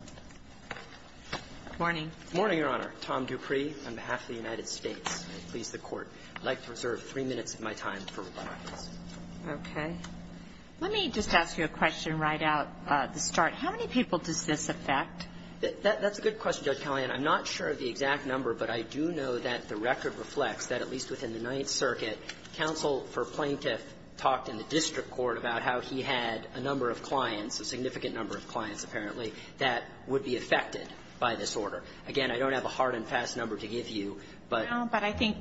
Good morning. Good morning, Your Honor. Tom Dupree on behalf of the United States. I please the Court. I'd like to reserve three minutes of my time for rebuttals. Okay. Let me just ask you a question right out of the start. How many people does this affect? That's a good question, Judge Callahan. I'm not sure of the exact number, but I do know that the record reflects that at least within the Ninth Circuit, counsel for plaintiff talked in the district court about how he had a number of clients, a significant number of clients, apparently, that would be affected by this order. Again, I don't have a hard and fast number to give you, but- No, but I think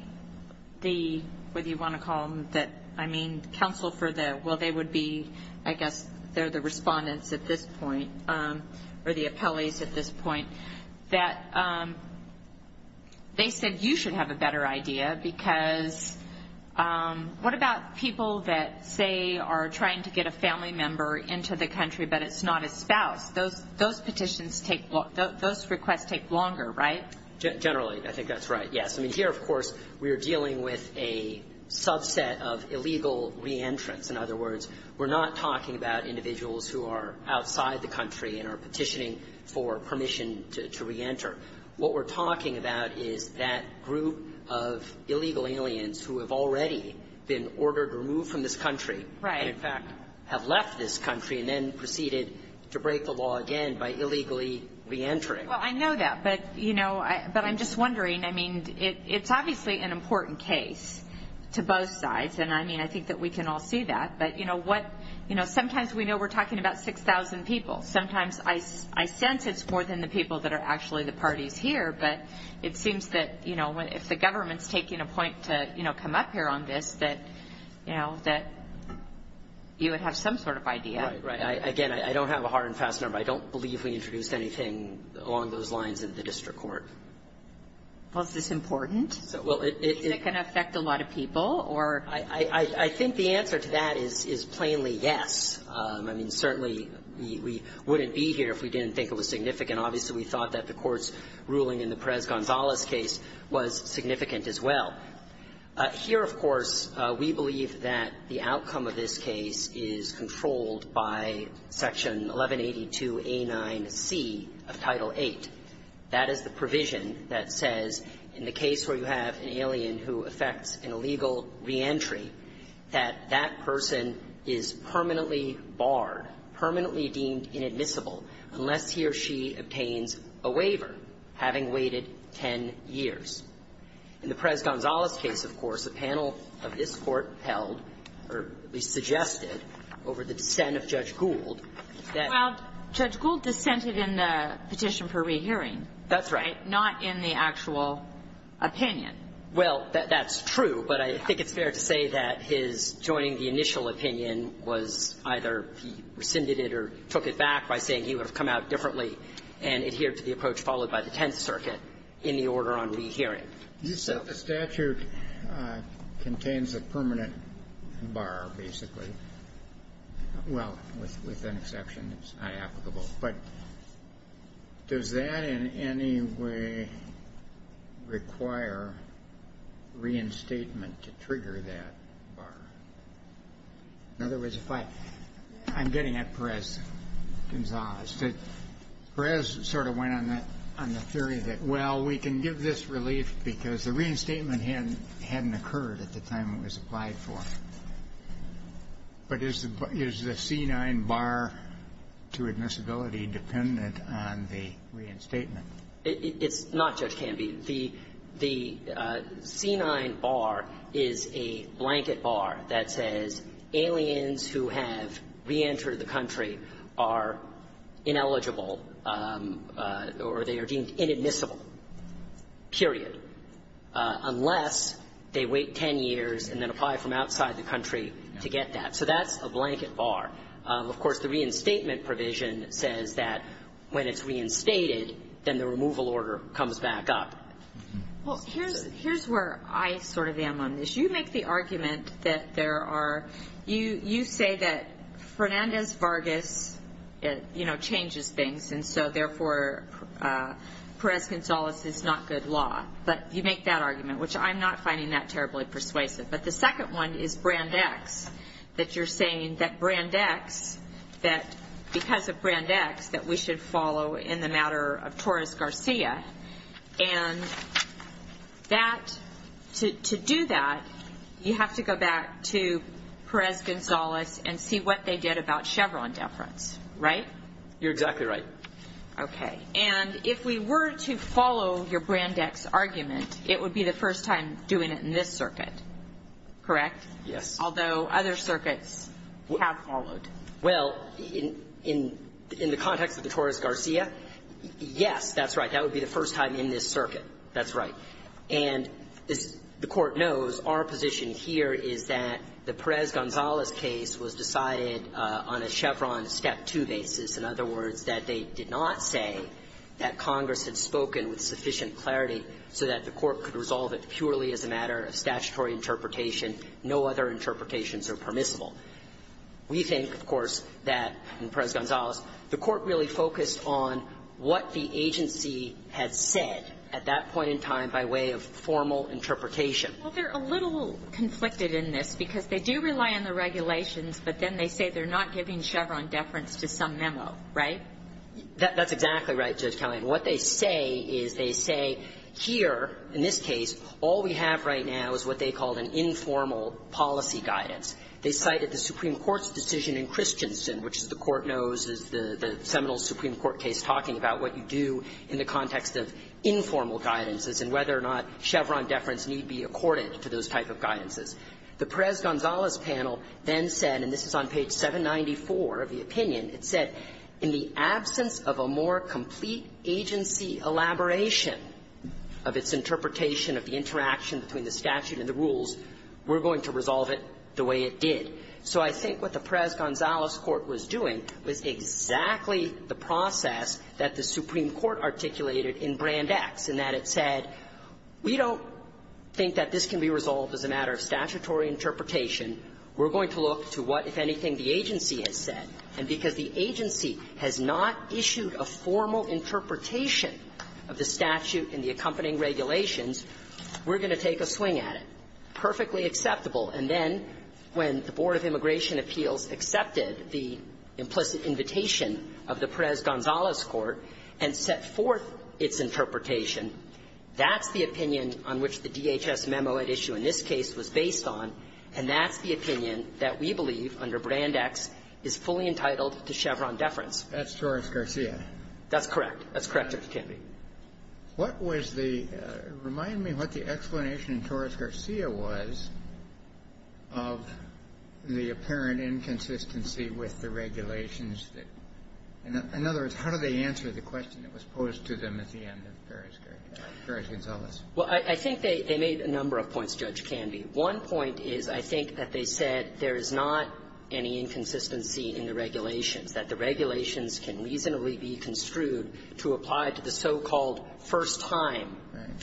the, whether you want to call them that, I mean, counsel for the, well, they would be, I guess, they're the respondents at this point, or the appellees at this point, that they said you should have a better idea. Because what about people that say, are trying to get a family member into the country, but it's not a spouse? Those petitions take, those requests take longer, right? Generally, I think that's right, yes. I mean, here, of course, we are dealing with a subset of illegal re-entrants. In other words, we're not talking about individuals who are outside the country and are petitioning for permission to re-enter. What we're talking about is that group of illegal aliens who have already been ordered to remove from this country, and in fact, have left this country and then proceeded to break the law again by illegally re-entering. Well, I know that, but I'm just wondering, I mean, it's obviously an important case to both sides. And I mean, I think that we can all see that. But sometimes we know we're talking about 6,000 people. Sometimes I sense it's more than the people that are actually the parties here. But it seems that if the government's taking a point to come up here on this, that you would have some sort of idea. Right. Again, I don't have a hard and fast number. I don't believe we introduced anything along those lines in the district court. Was this important? Well, it can affect a lot of people. I think the answer to that is plainly yes. I mean, certainly, we wouldn't be here if we didn't think it was significant. Obviously, we thought that the Court's ruling in the Perez-Gonzalez case was significant as well. Here, of course, we believe that the outcome of this case is controlled by Section 1182A9C of Title VIII. That is the provision that says, in the case where you have an alien who affects an illegal reentry, that that person is permanently barred, permanently deemed inadmissible, unless he or she obtains a waiver, having waited 10 years. In the Perez-Gonzalez case, of course, a panel of this Court held, or at least suggested, over the dissent of Judge Gould, that — Well, Judge Gould dissented in the petition for rehearing. That's right. Not in the actual opinion. Well, that's true, but I think it's fair to say that his joining the initial opinion was either he rescinded it or took it back by saying he would have come out differently and adhered to the approach followed by the Tenth Circuit in the order on rehearing. You said the statute contains a permanent bar, basically. Well, with an exception, it's not applicable. But does that in any way require reinstatement to trigger that bar? In other words, if I — I'm getting at Perez-Gonzalez. Perez sort of went on that — on the theory that, well, we can give this relief because the reinstatement hadn't occurred at the time it was applied for. But is the C-9 bar to admissibility dependent on the reinstatement? It's not, Judge Canby. The C-9 bar is a blanket bar that says aliens who have reentered the country are ineligible or they are deemed inadmissible, period, unless they wait 10 years and then apply from outside the country to get that. So that's a blanket bar. Of course, the reinstatement provision says that when it's reinstated, then the removal order comes back up. Well, here's where I sort of am on this. You make the argument that there are — you say that Fernandez-Vargas, you know, changes things, and so, therefore, Perez-Gonzalez is not good law. But you make that argument, which I'm not finding that terribly persuasive. But the second one is Brand X, that you're saying that Brand X, that because of Brand X, that we should follow in the matter of Torres-Garcia. And that — to do that, you have to go back to Perez-Gonzalez and see what they did about Chevron deference, right? You're exactly right. Okay. And if we were to follow your Brand X argument, it would be the first time doing it in this circuit, correct? Yes. Although other circuits have followed. Well, in the context of the Torres-Garcia, yes, that's right. That would be the first time in this circuit. That's right. And as the Court knows, our position here is that the Perez-Gonzalez case was decided on a Chevron step two basis. In other words, that they did not say that Congress had spoken with sufficient clarity so that the Court could resolve it purely as a matter of statutory interpretation. No other interpretations are permissible. We think, of course, that in Perez-Gonzalez, the Court really focused on what the agency had said at that point in time by way of formal interpretation. Well, they're a little conflicted in this, because they do rely on the regulations, but then they say they're not giving Chevron deference to some memo, right? That's exactly right, Judge Kelley. And what they say is they say, here, in this case, all we have right now is what they called an informal policy guidance. They cited the Supreme Court's decision in Christensen, which, as the Court knows, is the seminal Supreme Court case talking about what you do in the context of informal guidances and whether or not Chevron deference need be accorded to those type of guidances. The Perez-Gonzalez panel then said, and this is on page 794 of the opinion, it said, in the absence of a more complete agency elaboration of its interpretation of the interaction between the statute and the rules, we're going to resolve it the way it did. So I think what the Perez-Gonzalez court was doing was exactly the process that the Supreme Court articulated in Brand X, in that it said, we don't think that this can be resolved as a matter of statutory interpretation. We're going to look to what, if anything, the agency has said. And because the agency has not issued a formal interpretation of the statute and the accompanying regulations, we're going to take a swing at it. And that's perfectly acceptable. And then when the Board of Immigration Appeals accepted the implicit invitation of the Perez-Gonzalez court and set forth its interpretation, that's the opinion on which the DHS memo at issue in this case was based on, and that's the opinion that we believe under Brand X is fully entitled to Chevron deference. That's Torres-Garcia. That's correct. That's correct, Justice Kennedy. What was the – remind me what the explanation in Torres-Garcia was of the apparent inconsistency with the regulations that – in other words, how do they answer the question that was posed to them at the end of Perez-Gonzalez? Well, I think they made a number of points, Judge Candy. One point is, I think, that they said there is not any inconsistency in the regulations, that the regulations can reasonably be construed to apply to the so-called first-time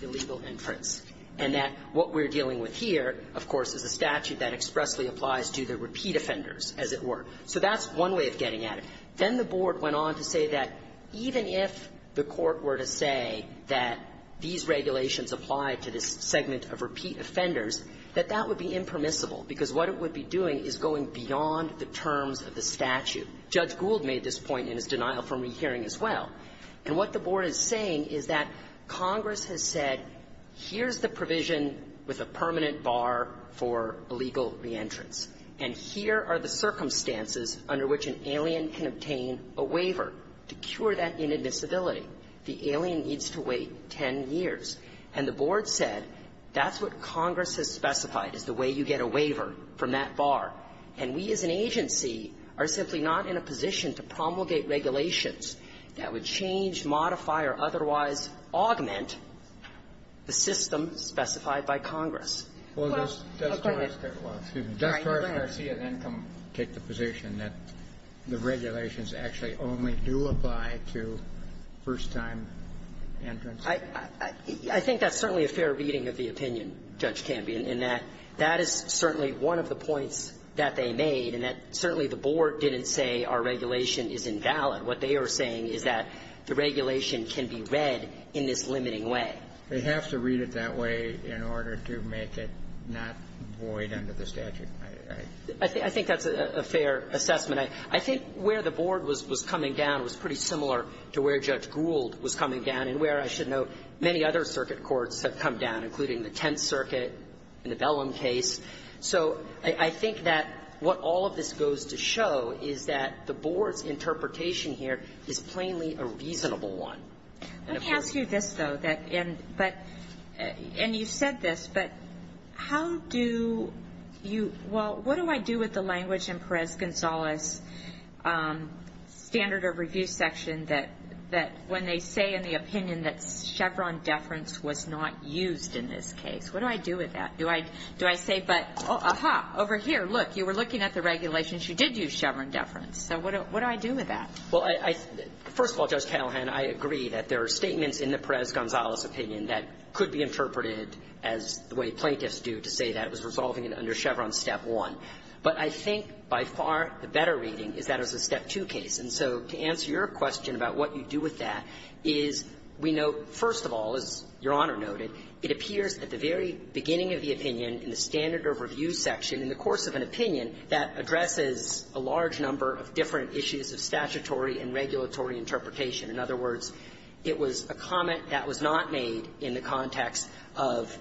illegal inference, and that what we're dealing with here, of course, is a statute that expressly applies to the repeat offenders, as it were. So that's one way of getting at it. Then the board went on to say that even if the court were to say that these regulations apply to this segment of repeat offenders, that that would be impermissible, because what it would be doing is going beyond the terms of the statute. Judge Gould made this point in his denial from rehearing as well. And what the board is saying is that Congress has said, here's the provision with a permanent bar for illegal reentrance, and here are the circumstances under which an alien can obtain a waiver to cure that inadmissibility. The alien needs to wait 10 years. And the board said, that's what Congress has specified, is the way you get a waiver from that bar. And we, as an agency, are simply not in a position to promulgate regulations that would change, modify, or otherwise augment the system specified by Congress. Well, according to the law, excuse me, does Torres-Garcia then come and take the position that the regulations actually only do apply to first-time entrants? I think that's certainly a fair reading of the opinion, Judge Canby, in that that is certainly one of the points that they made, and that certainly the board didn't say our regulation is invalid. What they are saying is that the regulation can be read in this limiting way. They have to read it that way in order to make it not void under the statute. I think that's a fair assessment. I think where the board was coming down was pretty similar to where Judge Gould was coming down, and where, I should note, many other circuit courts have come down, including the Tenth Circuit and the Bellum case. So I think that what all of this goes to show is that the board's interpretation here is plainly a reasonable one. Let me ask you this, though, and you said this, but how do you – well, what do I do with the language in Perez-Gonzalez's standard of review section that when they say in the opinion that Chevron deference was not used in this case? What do I do with that? Do I say, but, aha, over here, look, you were looking at the regulations. You did use Chevron deference. So what do I do with that? Well, first of all, Judge Callahan, I agree that there are statements in the Perez-Gonzalez opinion that could be interpreted as the way plaintiffs do to say that it was resolving under Chevron's Step 1. But I think by far the better reading is that it was a Step 2 case. And so to answer your question about what you do with that is, we note, first of all, as Your Honor noted, it appears at the very beginning of the opinion in the standard of review section in the course of an opinion that addresses a large number of different issues of statutory and regulatory interpretation. In other words, it was a comment that was not made in the context of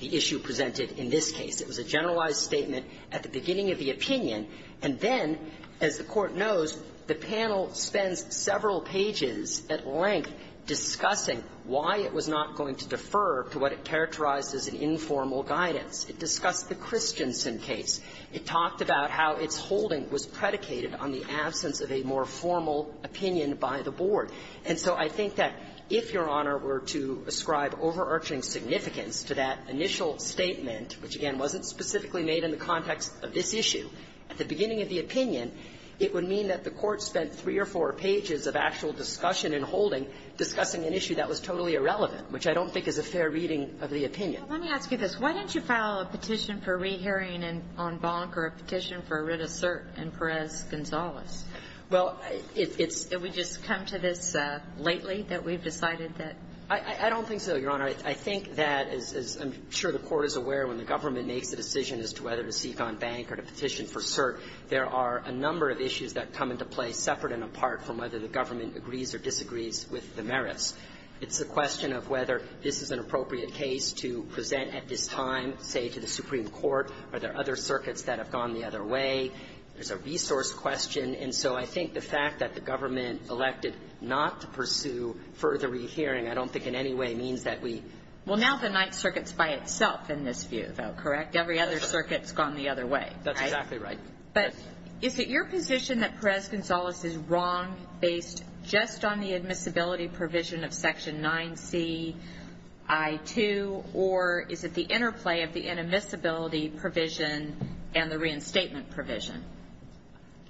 the issue presented in this case. It was a generalized statement at the beginning of the opinion. And then, as the Court knows, the panel spends several pages at length discussing why it was not going to defer to what it characterized as an informal guidance. It discussed the Christensen case. It talked about how its holding was predicated on the absence of a more formal opinion by the board. And so I think that if, Your Honor, were to ascribe overarching significance to that initial statement, which, again, wasn't specifically made in the context of this issue, at the beginning of the opinion, it would mean that the Court spent three or four pages of actual discussion in holding discussing an issue that was totally irrelevant, which I don't think is a fair reading of the opinion. Well, let me ask you this. Why didn't you file a petition for rehearing on Bonk or a petition for a writ of cert in Perez-Gonzalez? Well, it's we just come to this lately that we've decided that — I don't think so, Your Honor. I think that, as I'm sure the Court is aware, when the government makes a decision as to whether to seek on Bank or to petition for cert, there are a number of issues that come into play separate and apart from whether the government agrees or disagrees with the merits. It's a question of whether this is an appropriate case to present at this time, say, to the Supreme Court. Are there other circuits that have gone the other way? There's a resource question. And so I think the fact that the government elected not to pursue further rehearing I don't think in any way means that we — Well, now the Ninth Circuit's by itself in this view, though, correct? Every other circuit's gone the other way, right? That's exactly right. But is it your position that Perez-Gonzalez is wrong based just on the admissibility provision of Section 9c.i.2, or is it the interplay of the inadmissibility provision and the reinstatement provision?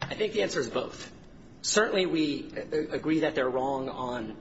I think the answer is both. Certainly, we agree that they're wrong on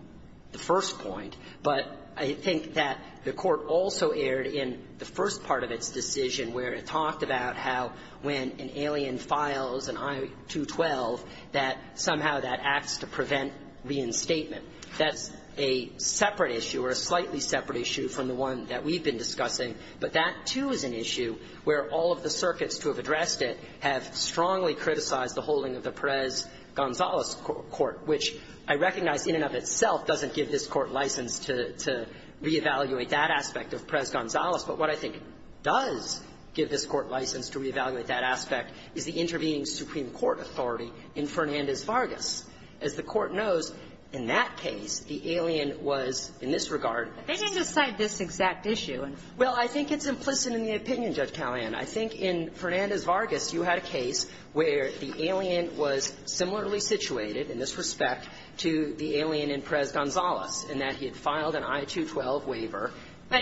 the first point, but I think that the Court also erred in the first part of its decision where it talked about how when an alien files an I-212, that somehow that acts to prevent reinstatement. That's a separate issue, or a slightly separate issue, from the one that we've been discussing. But that, too, is an issue where all of the circuits to have addressed it have strongly criticized the holding of the Perez-Gonzalez Court, which I recognize in and of itself doesn't give this Court license to reevaluate that aspect of Perez-Gonzalez. But what I think does give this Court license to reevaluate that aspect is the intervening Supreme Court authority in Fernandez-Vargas. As the Court knows, in that case, the alien was, in this regard — But they didn't decide this exact issue. Well, I think it's implicit in the opinion, Judge Callahan. I think in Fernandez-Vargas, you had a case where the alien was similarly situated in this respect to the alien in Perez-Gonzalez, in that he had filed an I-212 waiver. But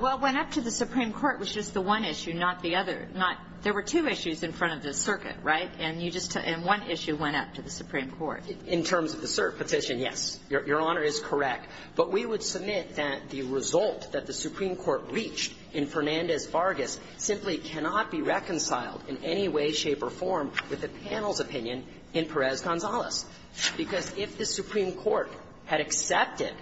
what went up to the Supreme Court was just the one issue, not the other. Not — there were two issues in front of the circuit, right? And you just — and one issue went up to the Supreme Court. In terms of the cert petition, yes. Your Honor is correct. But we would submit that the result that the Supreme Court reached in Fernandez-Vargas simply cannot be reconciled in any way, shape, or form with the panel's opinion in Perez-Gonzalez. Because if the Supreme Court had accepted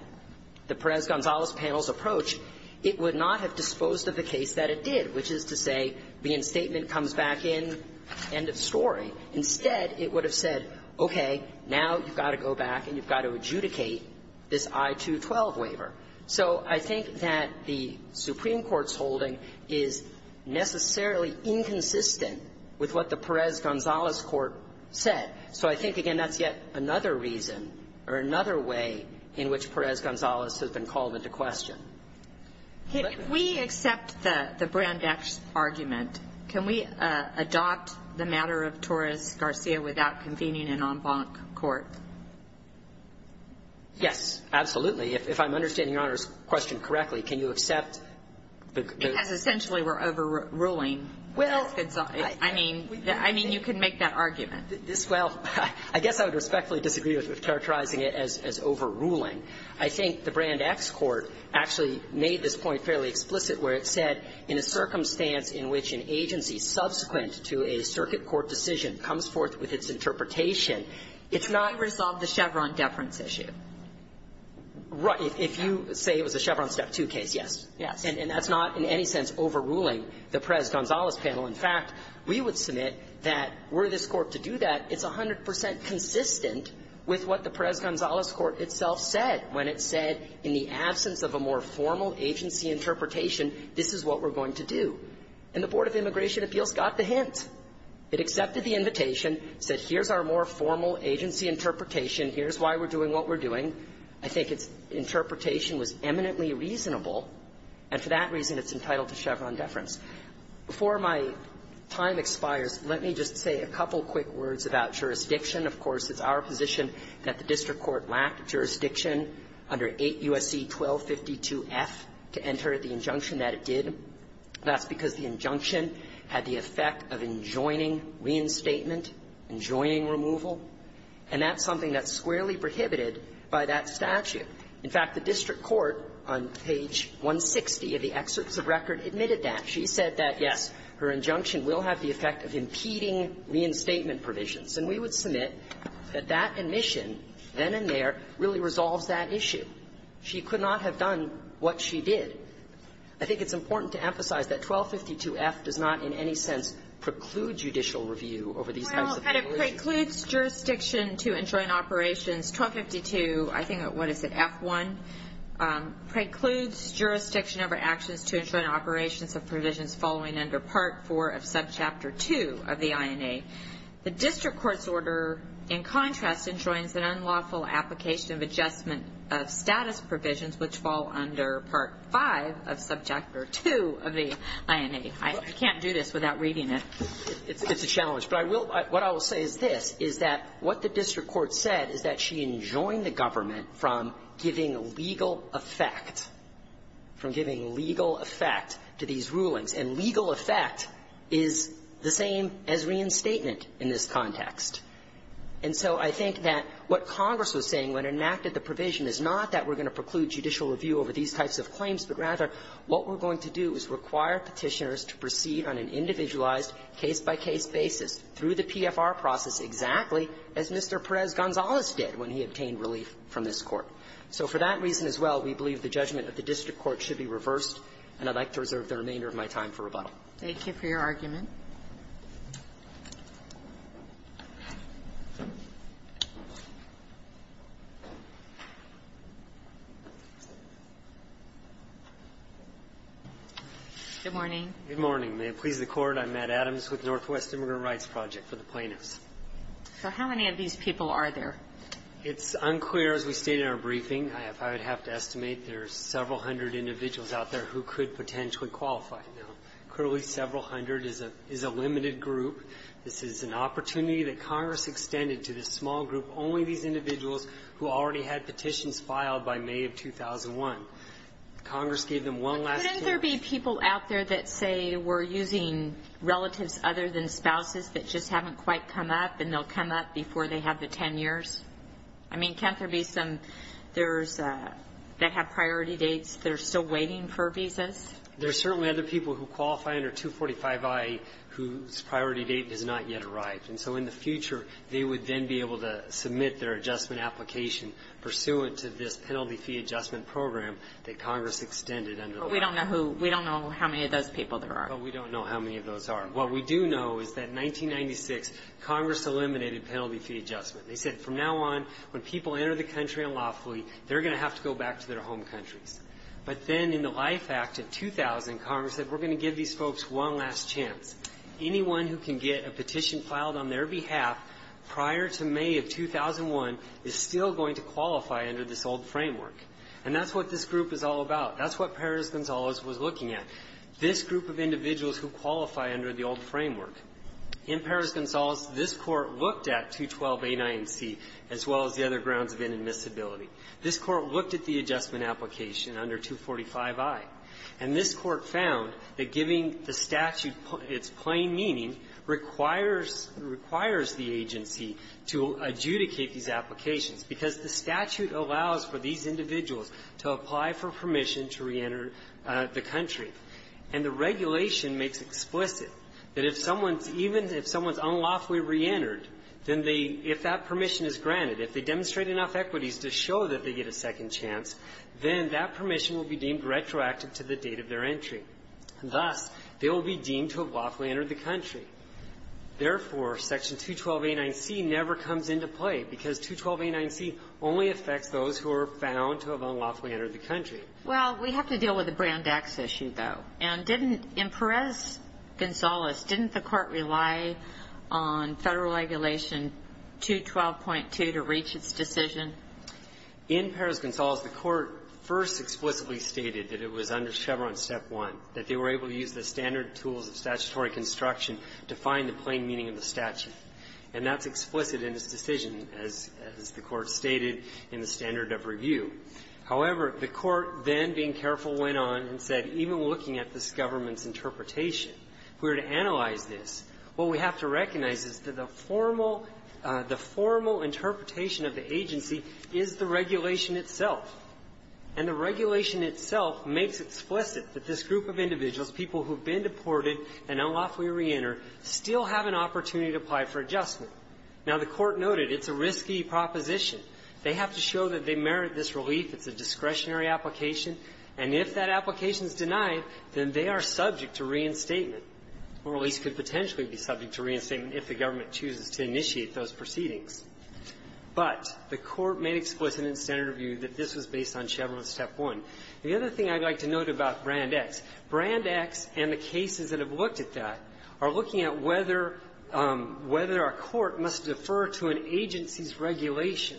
the Perez-Gonzalez panel's approach, it would not have disposed of the case that it did, which is to say the instatement comes back in, end of story. Instead, it would have said, okay, now you've got to go back and you've got to adjudicate this I-212 waiver. So I think that the Supreme Court's holding is necessarily inconsistent with what the Perez-Gonzalez court said. So I think, again, that's yet another reason or another way in which Perez-Gonzalez has been called into question. But we accept the — the Brandeis argument. Can we adopt the matter of Torres-Garcia without convening an en banc court? Yes, absolutely. If I'm understanding Your Honor's question correctly, can you accept the — Because essentially we're overruling — Well — I mean — I mean, you can make that argument. This — well, I guess I would respectfully disagree with characterizing it as overruling. I think the Brandeis court actually made this point fairly explicit, where it said in a circumstance in which an agency subsequent to a circuit court decision comes forth with its interpretation, it's not — You resolved the Chevron deference issue. Right. If you say it was a Chevron step two case, yes. Yes. And that's not in any sense overruling the Perez-Gonzalez panel. In fact, we would submit that were this court to do that, it's 100 percent consistent with what the Perez-Gonzalez court itself said when it said in the absence of a more formal agency interpretation, this is what we're going to do. And the Board of Immigration Appeals got the hint. It accepted the invitation, said, here's our more formal agency interpretation. Here's why we're doing what we're doing. I think its interpretation was eminently reasonable, and for that reason, it's entitled to Chevron deference. Before my time expires, let me just say a couple quick words about jurisdiction. Of course, it's our position that the district court lacked jurisdiction under 8 U.S.C. 1252F to enter the injunction that it did. That's because the injunction had the effect of enjoining reinstatement, enjoining removal. And that's something that's squarely prohibited by that statute. In fact, the district court on page 160 of the excerpts of record admitted that. She said that, yes, her injunction will have the effect of impeding reinstatement provisions. And we would submit that that admission, then and there, really resolves that issue. She could not have done what she did. I think it's important to emphasize that 1252F does not in any sense preclude judicial review over these types of violations. Well, and it precludes jurisdiction to enjoin operations. 1252, I think, what is it, F1, precludes jurisdiction over actions to enjoin operations of provisions following under Part IV of Subchapter II of the INA. The district court's order, in contrast, enjoins an unlawful application of adjustment of status provisions which fall under Part V of Subchapter II of the INA. I can't do this without reading it. It's a challenge. But I will – what I will say is this, is that what the district court said is that she enjoined the government from giving legal effect, from giving legal effect to these rulings. And legal effect is the same as reinstatement in this context. And so I think that what Congress was saying when it enacted the provision is not that we're going to preclude judicial review over these types of claims, but rather what we're going to do is require Petitioners to proceed on an individualized case-by-case basis through the PFR process exactly as Mr. Perez-Gonzalez did when he obtained relief from this Court. So for that reason as well, we believe the judgment of the district court should be reversed, and I'd like to reserve the remainder of my time for rebuttal. Thank you for your argument. Good morning. Good morning. May it please the Court, I'm Matt Adams with Northwest Immigrant Rights Project for the plaintiffs. So how many of these people are there? It's unclear as we state in our briefing. I would have to estimate there are several hundred individuals out there who could potentially qualify. Clearly several hundred is a limited group. This is an opportunity that Congress extended to this small group, only these individuals who already had petitions filed by May of 2001. Congress gave them one last chance. But couldn't there be people out there that say we're using relatives other than spouses that just haven't quite come up, and they'll come up before they have the 10 years? I mean, can't there be some that have priority dates that are still waiting for visas? There are certainly other people who qualify under 245-I whose priority date has not yet arrived. And so in the future, they would then be able to submit their adjustment application pursuant to this penalty fee adjustment program that Congress extended under the law. But we don't know who, we don't know how many of those people there are. But we don't know how many of those are. What we do know is that in 1996, Congress eliminated penalty fee adjustment. They said from now on, when people enter the country unlawfully, they're going to have to go back to their home countries. But then in the Life Act of 2000, Congress said, we're going to give these folks one last chance. Anyone who can get a petition filed on their behalf prior to May of 2001 is still going to qualify under this old framework. And that's what this group is all about. That's what Perez-Gonzalez was looking at, this group of individuals who qualify under the old framework. In Perez-Gonzalez, this Court looked at 212-A9C, as well as the other grounds of inadmissibility. This Court looked at the adjustment application under 245-I. And this Court found that giving the statute its plain meaning requires the agency to adjudicate these applications, because the statute allows for these individuals to apply for permission to reenter the country. And the regulation makes explicit that if someone's unlawfully reentered, then if that they get a second chance, then that permission will be deemed retroactive to the date of their entry. Thus, they will be deemed to have unlawfully entered the country. Therefore, Section 212-A9C never comes into play, because 212-A9C only affects those who are found to have unlawfully entered the country. Well, we have to deal with the Brand X issue, though. And didn't, in Perez-Gonzalez, didn't the Court rely on Federal Regulation 212.2 to reach its decision? In Perez-Gonzalez, the Court first explicitly stated that it was under Chevron Step 1, that they were able to use the standard tools of statutory construction to find the plain meaning of the statute. And that's explicit in its decision, as the Court stated in the standard of review. However, the Court then, being careful, went on and said, even looking at this government's interpretation, if we were to analyze this, what we have to recognize is that the formal interpretation of the agency is the regulation itself. And the regulation itself makes explicit that this group of individuals, people who have been deported and unlawfully reentered, still have an opportunity to apply for adjustment. Now, the Court noted it's a risky proposition. They have to show that they merit this relief. It's a discretionary application. And if that application is denied, then they are subject to reinstatement or at least could potentially be subject to reinstatement if the government chooses to initiate those proceedings. But the Court made explicit in standard review that this was based on Chevron Step 1. The other thing I'd like to note about Brand X, Brand X and the cases that have looked at that are looking at whether a court must defer to an agency's regulation.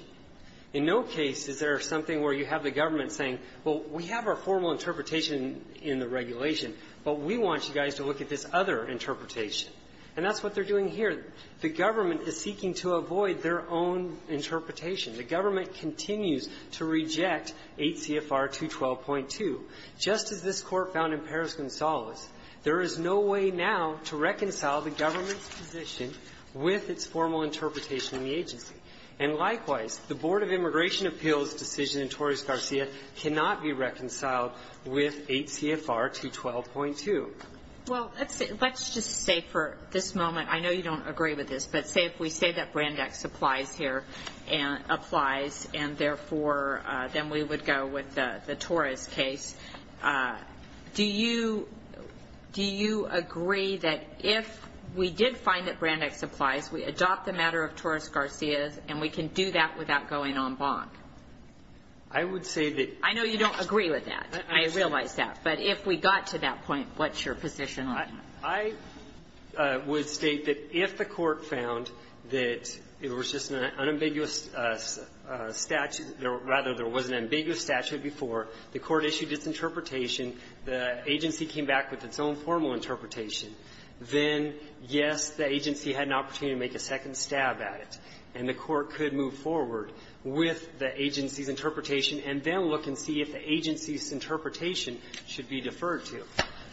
In no case is there something where you have the government saying, well, we have our formal interpretation in the regulation, but we want you guys to look at this other interpretation. And that's what they're doing here. The government is seeking to avoid their own interpretation. The government continues to reject 8 CFR 212.2. Just as this Court found in Perez-Gonzalez, there is no way now to reconcile the government's position with its formal interpretation in the agency. And likewise, the Board of Immigration Appeals decision in Torres-Garcia cannot be reconciled with 8 CFR 212.2. Well, let's just say for this moment, I know you don't agree with this, but say if we say that Brand X applies here and therefore then we would go with the Torres case. Do you agree that if we did find that Brand X applies, we adopt the matter of Torres-Garcia and we can do that without going en banc? I would say that I know you don't agree with that. I realize that. But if we got to that point, what's your position on that? I would state that if the Court found that it was just an unambiguous statute or, rather, there was an ambiguous statute before, the Court issued its interpretation. The agency came back with its own formal interpretation. Then, yes, the agency had an opportunity to make a second stab at it. And the Court could move forward with the agency's interpretation and then look and see if the agency's interpretation should be deferred to.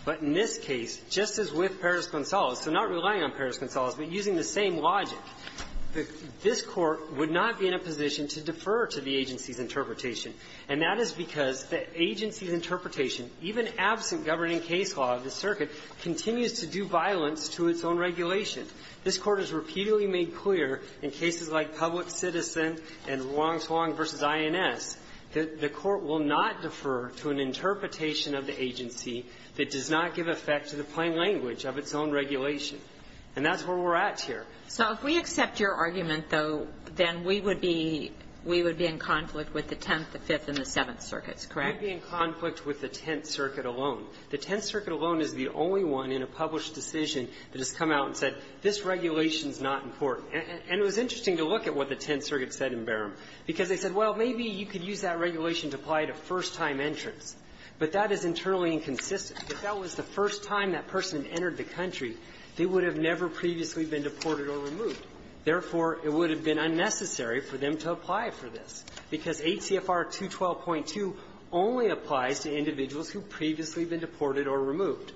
But in this case, just as with Perez-Gonzalez, so not relying on Perez-Gonzalez, but using the same logic, this Court would not be in a position to defer to the agency's interpretation. And that is because the agency's interpretation, even absent governing case law of the circuit, continues to do violence to its own regulation. This Court has repeatedly made clear in cases like Public Citizen and Wong-Slung v. INS that the Court will not defer to an interpretation of the agency that does not give effect to the plain language of its own regulation. And that's where we're at here. So if we accept your argument, though, then we would be we would be in conflict with the Tenth, the Fifth, and the Seventh Circuits, correct? We would be in conflict with the Tenth Circuit alone. The Tenth Circuit alone is the only one in a published decision that has come out and said this regulation is not in court. And it was interesting to look at what the Tenth Circuit said in Barham, because they said, well, maybe you could use that regulation to apply to first-time entrants, but that is internally inconsistent. If that was the first time that person entered the country, they would have never previously been deported or removed. Therefore, it would have been unnecessary for them to apply for this, because 8 CFR 212.2 only applies to individuals who have previously been deported or removed.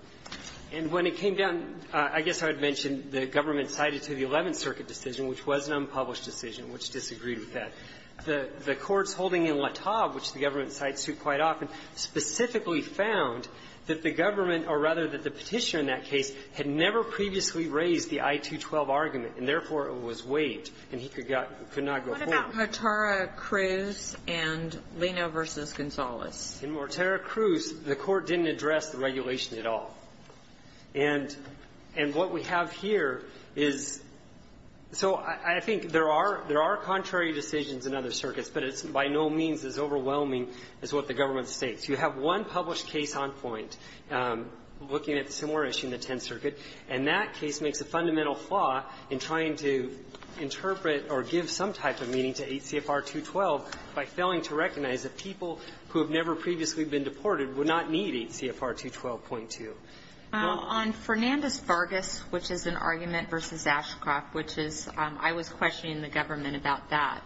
And when it came down, I guess I would mention the government cited to the Eleventh Circuit decision, which was an unpublished decision, which disagreed with that. The courts holding in LaTav, which the government cites quite often, specifically found that the government, or rather that the Petitioner in that case, had never previously raised the I-212 argument, and therefore, it was waived, and he could not go forward. And he could not go forward. What about Mortara-Cruz and Lino v. Gonzales? In Mortara-Cruz, the court didn't address the regulation at all. And what we have here is so I think there are contrary decisions in other circuits, but it's by no means as overwhelming as what the government states. You have one published case on point looking at the Seymour issue in the Tenth Circuit, and that case makes a fundamental flaw in trying to interpret or give some type of meaning to 8 CFR 212 by failing to recognize that people who have never previously been deported would not need 8 CFR 212.2. Now, on Fernandez-Vargas, which is an argument versus Ashcroft, which is, I was questioning the government about that,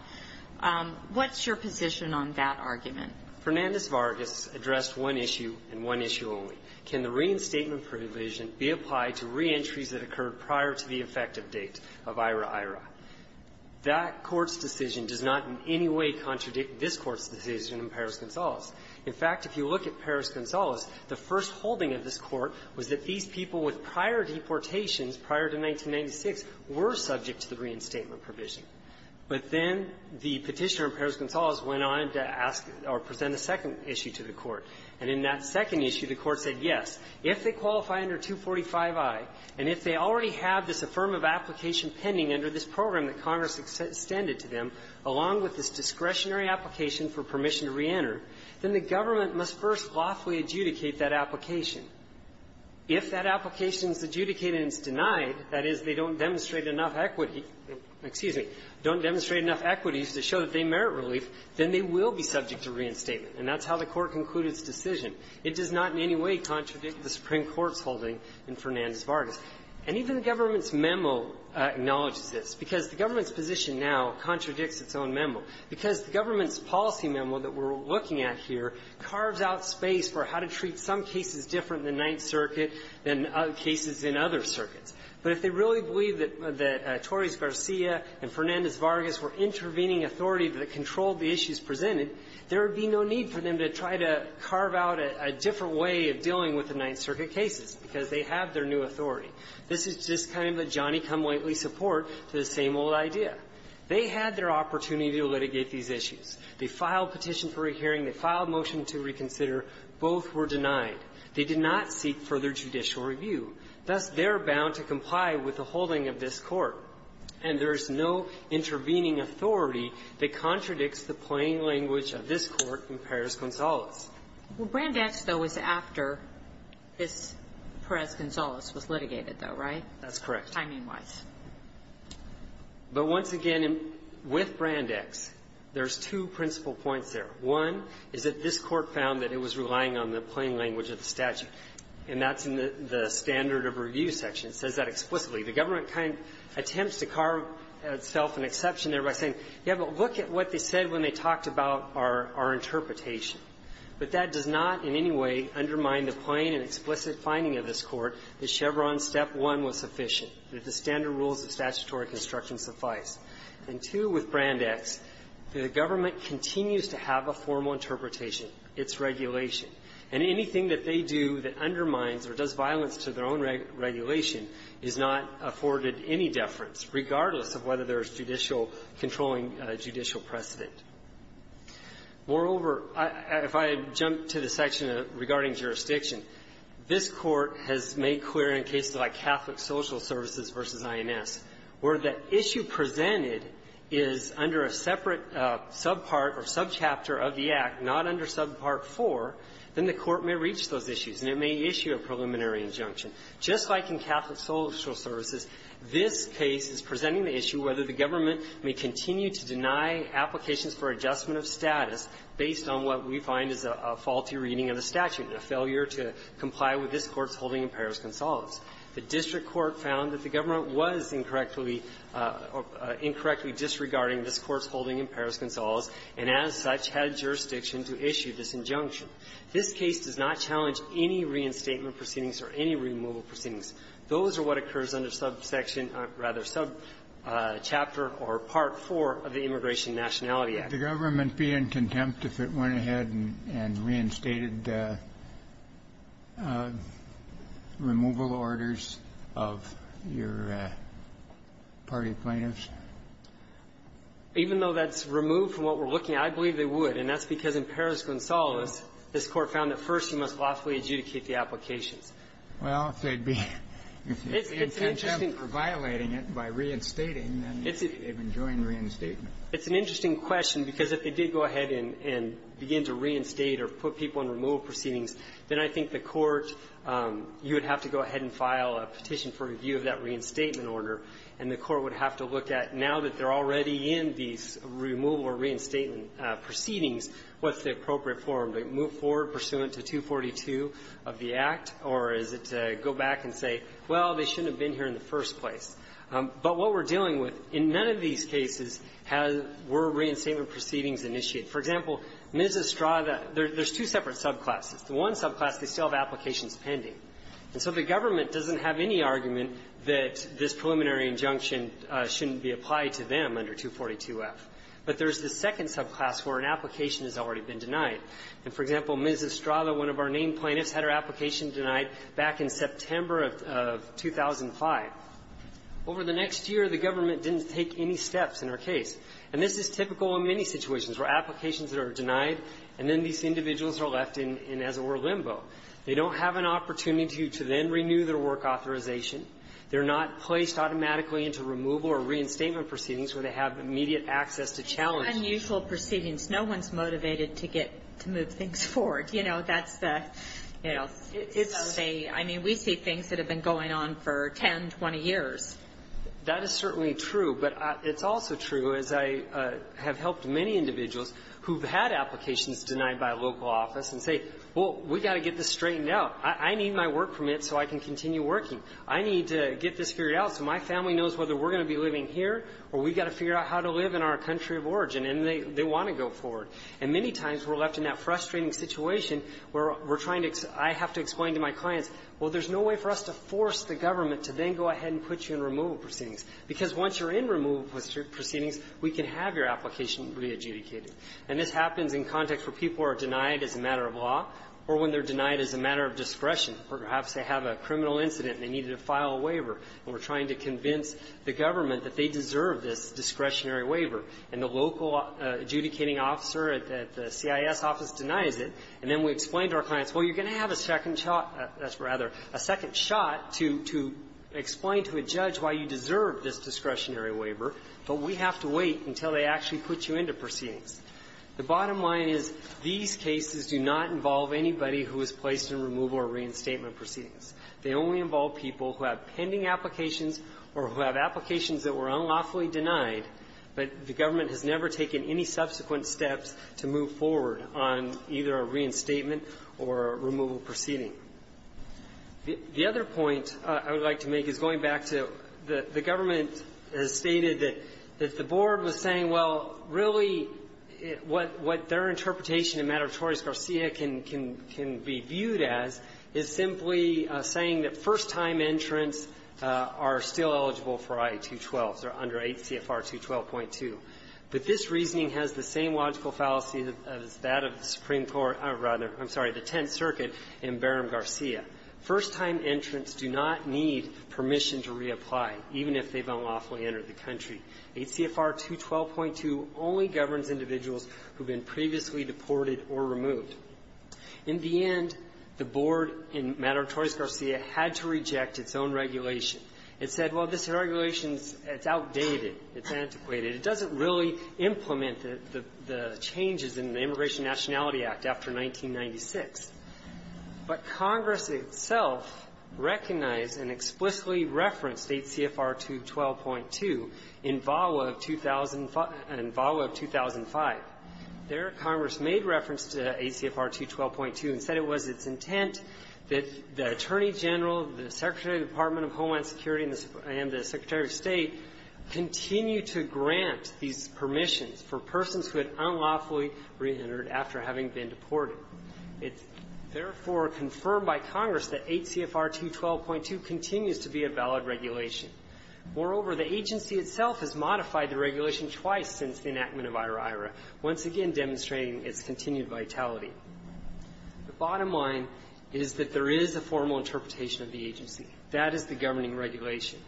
what's your position on that argument? Fernandez-Vargas addressed one issue, and one issue only. Can the reinstatement provision be applied to reentries that occurred prior to the effective date of IRA-IRA? That Court's decision does not in any way contradict this Court's decision in Perez-Gonzalez. In fact, if you look at Perez-Gonzalez, the first holding of this Court was that these people with prior deportations prior to 1996 were subject to the reinstatement provision. But then the Petitioner in Perez-Gonzalez went on to ask or present a second issue to the Court, and in that second issue, the Court said, yes, if they qualify under 245i, and if they already have this affirmative application pending under this permission to reenter, then the government must first lawfully adjudicate that application. If that application is adjudicated and it's denied, that is, they don't demonstrate enough equity to show that they merit relief, then they will be subject to reinstatement. And that's how the Court concluded its decision. It does not in any way contradict the Supreme Court's holding in Fernandez-Vargas. And even the government's memo acknowledges this, because the government's policy memo that we're looking at here carves out space for how to treat some cases different than Ninth Circuit, than cases in other circuits. But if they really believe that Torres-Garcia and Fernandez-Vargas were intervening authority that controlled the issues presented, there would be no need for them to try to carve out a different way of dealing with the Ninth Circuit cases, because they have their new authority. This is just kind of a Johnny-come-lately support to the same old idea. They had their opportunity to litigate these issues. They filed petition for a hearing. They filed motion to reconsider. Both were denied. They did not seek further judicial review. Thus, they're bound to comply with the holding of this Court. And there's no intervening authority that contradicts the plain language of this Court in Perez-Gonzalez. Kagan. Well, Brandach, though, is after this Perez-Gonzalez was litigated, though, right? That's correct. Timing-wise. But once again, with Brandach's, there's two principal points there. One is that this Court found that it was relying on the plain language of the statute. And that's in the standard of review section. It says that explicitly. The government kind of attempts to carve itself an exception there by saying, yeah, but look at what they said when they talked about our interpretation. But that does not in any way undermine the plain and explicit finding of this Court that Chevron Step 1 was sufficient. That the standard rules of statutory construction suffice. And 2, with Brandach's, the government continues to have a formal interpretation. It's regulation. And anything that they do that undermines or does violence to their own regulation is not afforded any deference, regardless of whether there's judicial controlling judicial precedent. Moreover, if I jump to the section regarding jurisdiction, this Court has made clear in cases like Catholic Social Services v. INS, where the issue presented is under a separate subpart or subchapter of the Act, not under subpart 4, then the Court may reach those issues, and it may issue a preliminary injunction. Just like in Catholic Social Services, this case is presenting the issue whether the government may continue to deny applications for adjustment of status based on what we find is a faulty reading of the statute, a failure to comply with this statute in Paris-Gonzalez. The district court found that the government was incorrectly or incorrectly disregarding this Court's holding in Paris-Gonzalez, and as such, had jurisdiction to issue this injunction. This case does not challenge any reinstatement proceedings or any removal proceedings. Those are what occurs under subsection or rather subchapter or part 4 of the Immigration and Nationality Act. Kennedy, would the government be in contempt if it went ahead and reinstated removal orders of your party plaintiffs? Even though that's removed from what we're looking at, I believe they would. And that's because in Paris-Gonzalez, this Court found that first, you must lawfully adjudicate the applications. Well, if they'd be in contempt for violating it by reinstating, then they've enjoined reinstatement. It's an interesting question, because if they did go ahead and begin to reinstate or put people in removal proceedings, then I think the Court, you would have to go ahead and file a petition for review of that reinstatement order. And the Court would have to look at, now that they're already in these removal or reinstatement proceedings, what's the appropriate form? Do they move forward pursuant to 242 of the Act, or is it to go back and say, well, they shouldn't have been here in the first place? But what we're dealing with, in none of these cases were reinstatement proceedings initiated. For example, Ms. Estrada, there's two separate subclasses. The one subclass, they still have applications pending. And so the government doesn't have any argument that this preliminary injunction shouldn't be applied to them under 242-F. But there's the second subclass where an application has already been denied. And, for example, Ms. Estrada, one of our named plaintiffs, had her application denied back in September of 2005. Over the next year, the government didn't take any steps in her case. And this is typical in many situations, where applications are denied, and then these individuals are left in, as it were, limbo. They don't have an opportunity to then renew their work authorization. They're not placed automatically into removal or reinstatement proceedings where they have immediate access to challenge. It's unusual proceedings. No one's motivated to get to move things forward. You know, that's the, you know, it's a, I mean, we see things that have been going on for 10, 20 years. That is certainly true. But it's also true, as I have helped many individuals who've had applications denied by a local office and say, well, we've got to get this straightened out. I need my work permit so I can continue working. I need to get this figured out so my family knows whether we're going to be living here or we've got to figure out how to live in our country of origin. And they want to go forward. And many times we're left in that frustrating situation where we're trying to ex-I have to explain to my clients, well, there's no way for us to force the government to then go ahead and put you in removal proceedings. Because once you're in removal proceedings, we can have your application re-adjudicated. And this happens in context where people are denied as a matter of law or when they're denied as a matter of discretion. Perhaps they have a criminal incident and they needed to file a waiver, and we're trying to convince the government that they deserve this discretionary waiver. And the local adjudicating officer at the CIS office denies it. And then we explain to our clients, well, you're going to have a second shot to, to explain to a judge why you deserve this discretionary waiver. But we have to wait until they actually put you into proceedings. The bottom line is these cases do not involve anybody who is placed in removal or reinstatement proceedings. They only involve people who have pending applications or who have applications that were unlawfully denied, but the government has never taken any subsequent steps to move forward on either a reinstatement or removal proceeding. The other point I would like to make is going back to the government has stated that the board was saying, well, really, what their interpretation in the matter of Torres-Garcia can be viewed as is simply saying that first-time entrants are still eligible for I-212. They're under 8 CFR 212.2. But this reasoning has the same logical fallacy as that of the Supreme Court or rather, I'm sorry, the Tenth Circuit in Barham-Garcia. First-time entrants do not need permission to reapply, even if they've unlawfully entered the country. 8 CFR 212.2 only governs individuals who have been previously deported or removed. In the end, the board in matter of Torres-Garcia had to reject its own regulation. It said, well, this regulation is outdated. It's antiquated. It doesn't really implement the changes in the Immigration Nationality Act after 1996. But Congress itself recognized and explicitly referenced 8 CFR 212.2 in VAWA of 2005. There, Congress made reference to 8 CFR 212.2 and said it was its intent that the Attorney General, the Secretary of the Department of Homeland Security, and the Secretary of State continue to grant these permissions for persons who had unlawfully reentered after having been deported. It's therefore confirmed by Congress that 8 CFR 212.2 continues to be a valid regulation. Moreover, the agency itself has modified the regulation twice since the enactment of IHRA-IHRA, once again demonstrating its continued vitality. The bottom line is that there is a formal interpretation of the agency. That is the governing regulation.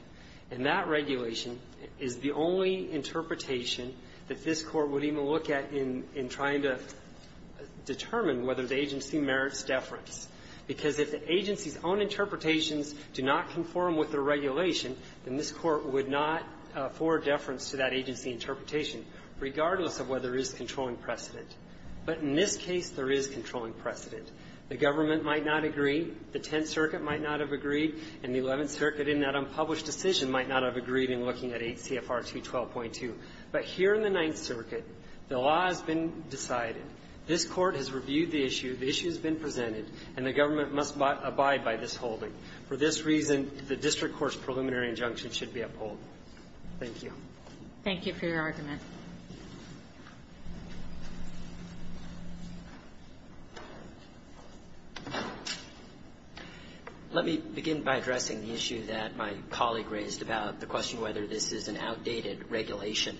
And that regulation is the only interpretation that this Court would even look at in trying to determine whether the agency merits deference. Because if the agency's own interpretations do not conform with the regulation, then this Court would not forward deference to that agency interpretation, regardless of whether there is controlling precedent. But in this case, there is controlling precedent. The government might not agree. The Tenth Circuit might not have agreed. And the Eleventh Circuit, in that unpublished decision, might not have agreed in looking at 8 CFR 212.2. But here in the Ninth Circuit, the law has been decided. This Court has reviewed the issue. The issue has been presented. And the government must abide by this holding. For this reason, the district court's preliminary injunction should be upheld. Thank you. Thank you for your argument. Let me begin by addressing the issue that my colleague raised about the question whether this is an outdated regulation.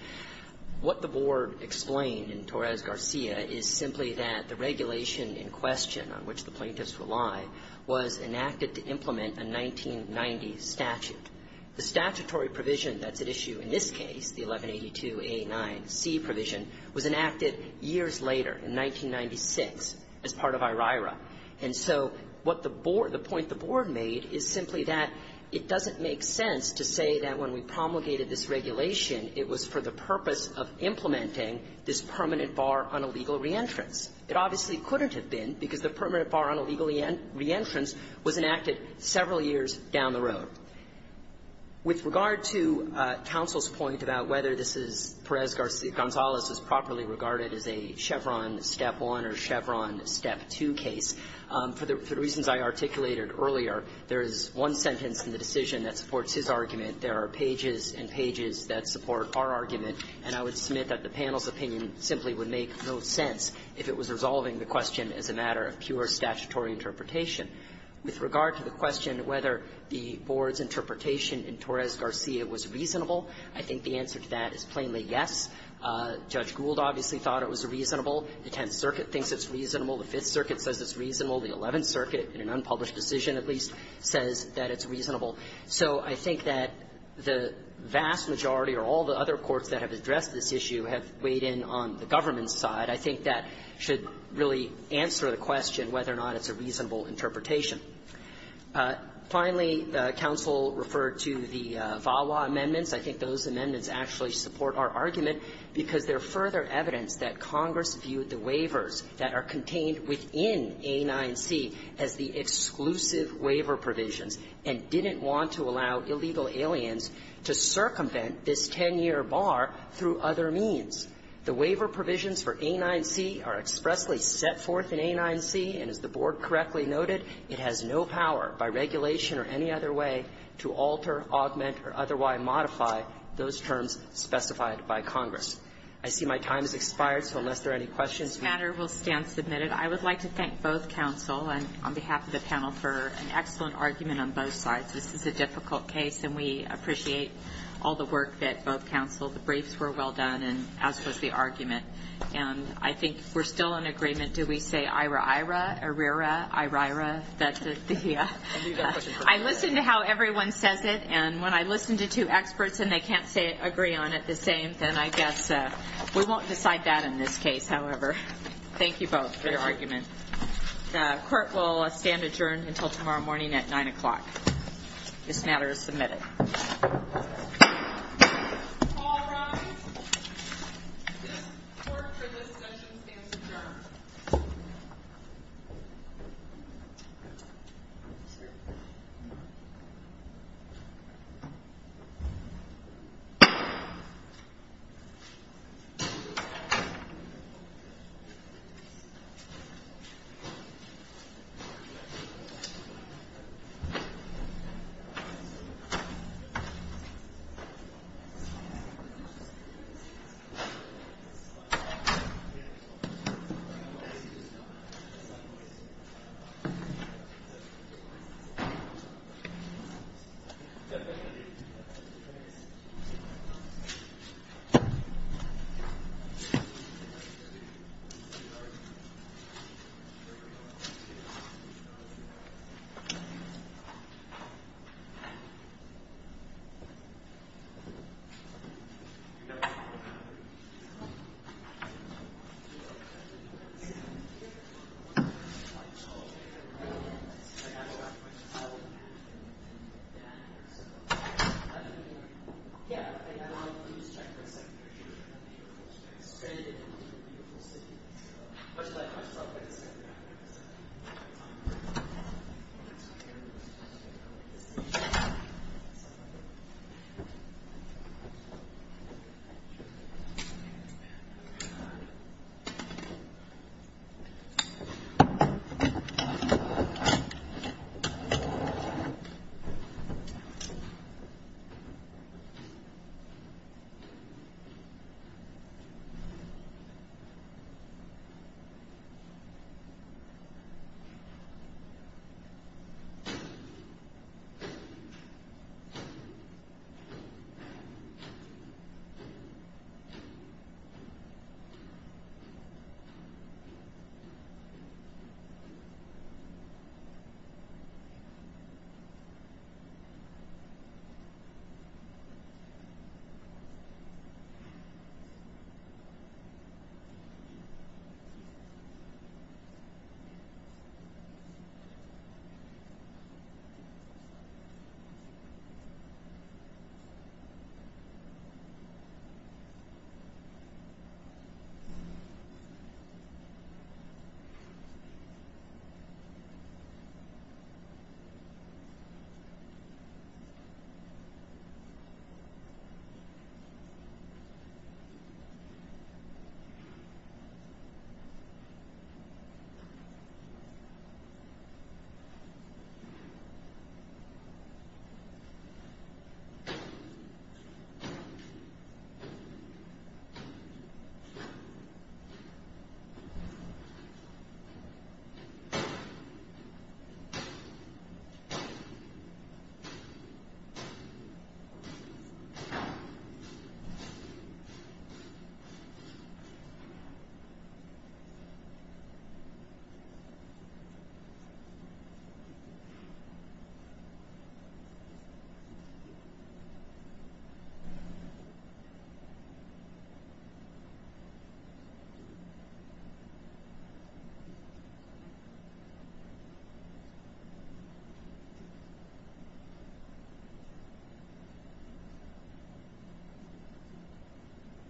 What the Board explained in Torres-Garcia is simply that the regulation in question on which the plaintiffs rely was enacted to implement a 1990 statute. The statutory provision that's at issue in this case, the 1182a9c provision, was enacted years later, in 1996, as part of IRIRA. And so what the Board – the point the Board made is simply that it doesn't make sense to say that when we promulgated this regulation, it was for the purpose of implementing this permanent bar on illegal reentrance. It obviously couldn't have been, because the permanent bar on illegal reentrance was enacted several years down the road. With regard to counsel's point about whether this is – Perez-Gonzalez is properly regarded as a Chevron Step 1 or Chevron Step 2 case, for the reasons I articulated earlier, there is one sentence in the decision that supports his argument. There are pages and pages that support our argument. And I would submit that the panel's opinion simply would make no sense if it was resolving the question as a matter of pure statutory interpretation. With regard to the question whether the Board's interpretation in Torres-Garcia was reasonable, I think the answer to that is plainly yes. Judge Gould obviously thought it was reasonable. The Tenth Circuit thinks it's reasonable. The Fifth Circuit says it's reasonable. The Eleventh Circuit, in an unpublished decision at least, says that it's reasonable. So I think that the vast majority or all the other courts that have addressed this issue have weighed in on the government's side. I think that should really answer the question whether or not it's a reasonable interpretation. Finally, the counsel referred to the VAWA amendments. I think those amendments actually support our argument because they're further evidence that Congress viewed the waivers that are contained within A9C as the exclusive waiver provisions and didn't want to allow illegal aliens to circumvent this 10-year bar through other means. The waiver provisions for A9C are expressly set forth in A9C, and as the Board correctly noted, it has no power by regulation or any other way to alter, augment, or otherwise modify those terms specified by Congress. I see my time has expired, so unless there are any questions, we'll stand. I would like to thank both counsel and on behalf of the panel for an excellent argument on both sides. This is a difficult case, and we appreciate all the work that both counsel, the briefs were well done, and as was the argument. And I think we're still in agreement. Do we say ira-ira, arira, irira? I listen to how everyone says it, and when I listen to two experts and they can't agree on it the same, then I guess we won't decide that in this case. However, thank you both for your argument. The court will stand adjourned until tomorrow morning at 9 o'clock. This matter is submitted. Court for this session stands adjourned. Thank you. Thank you. Thank you. Thank you. Thank you. Thank you. Thank you. Thank you.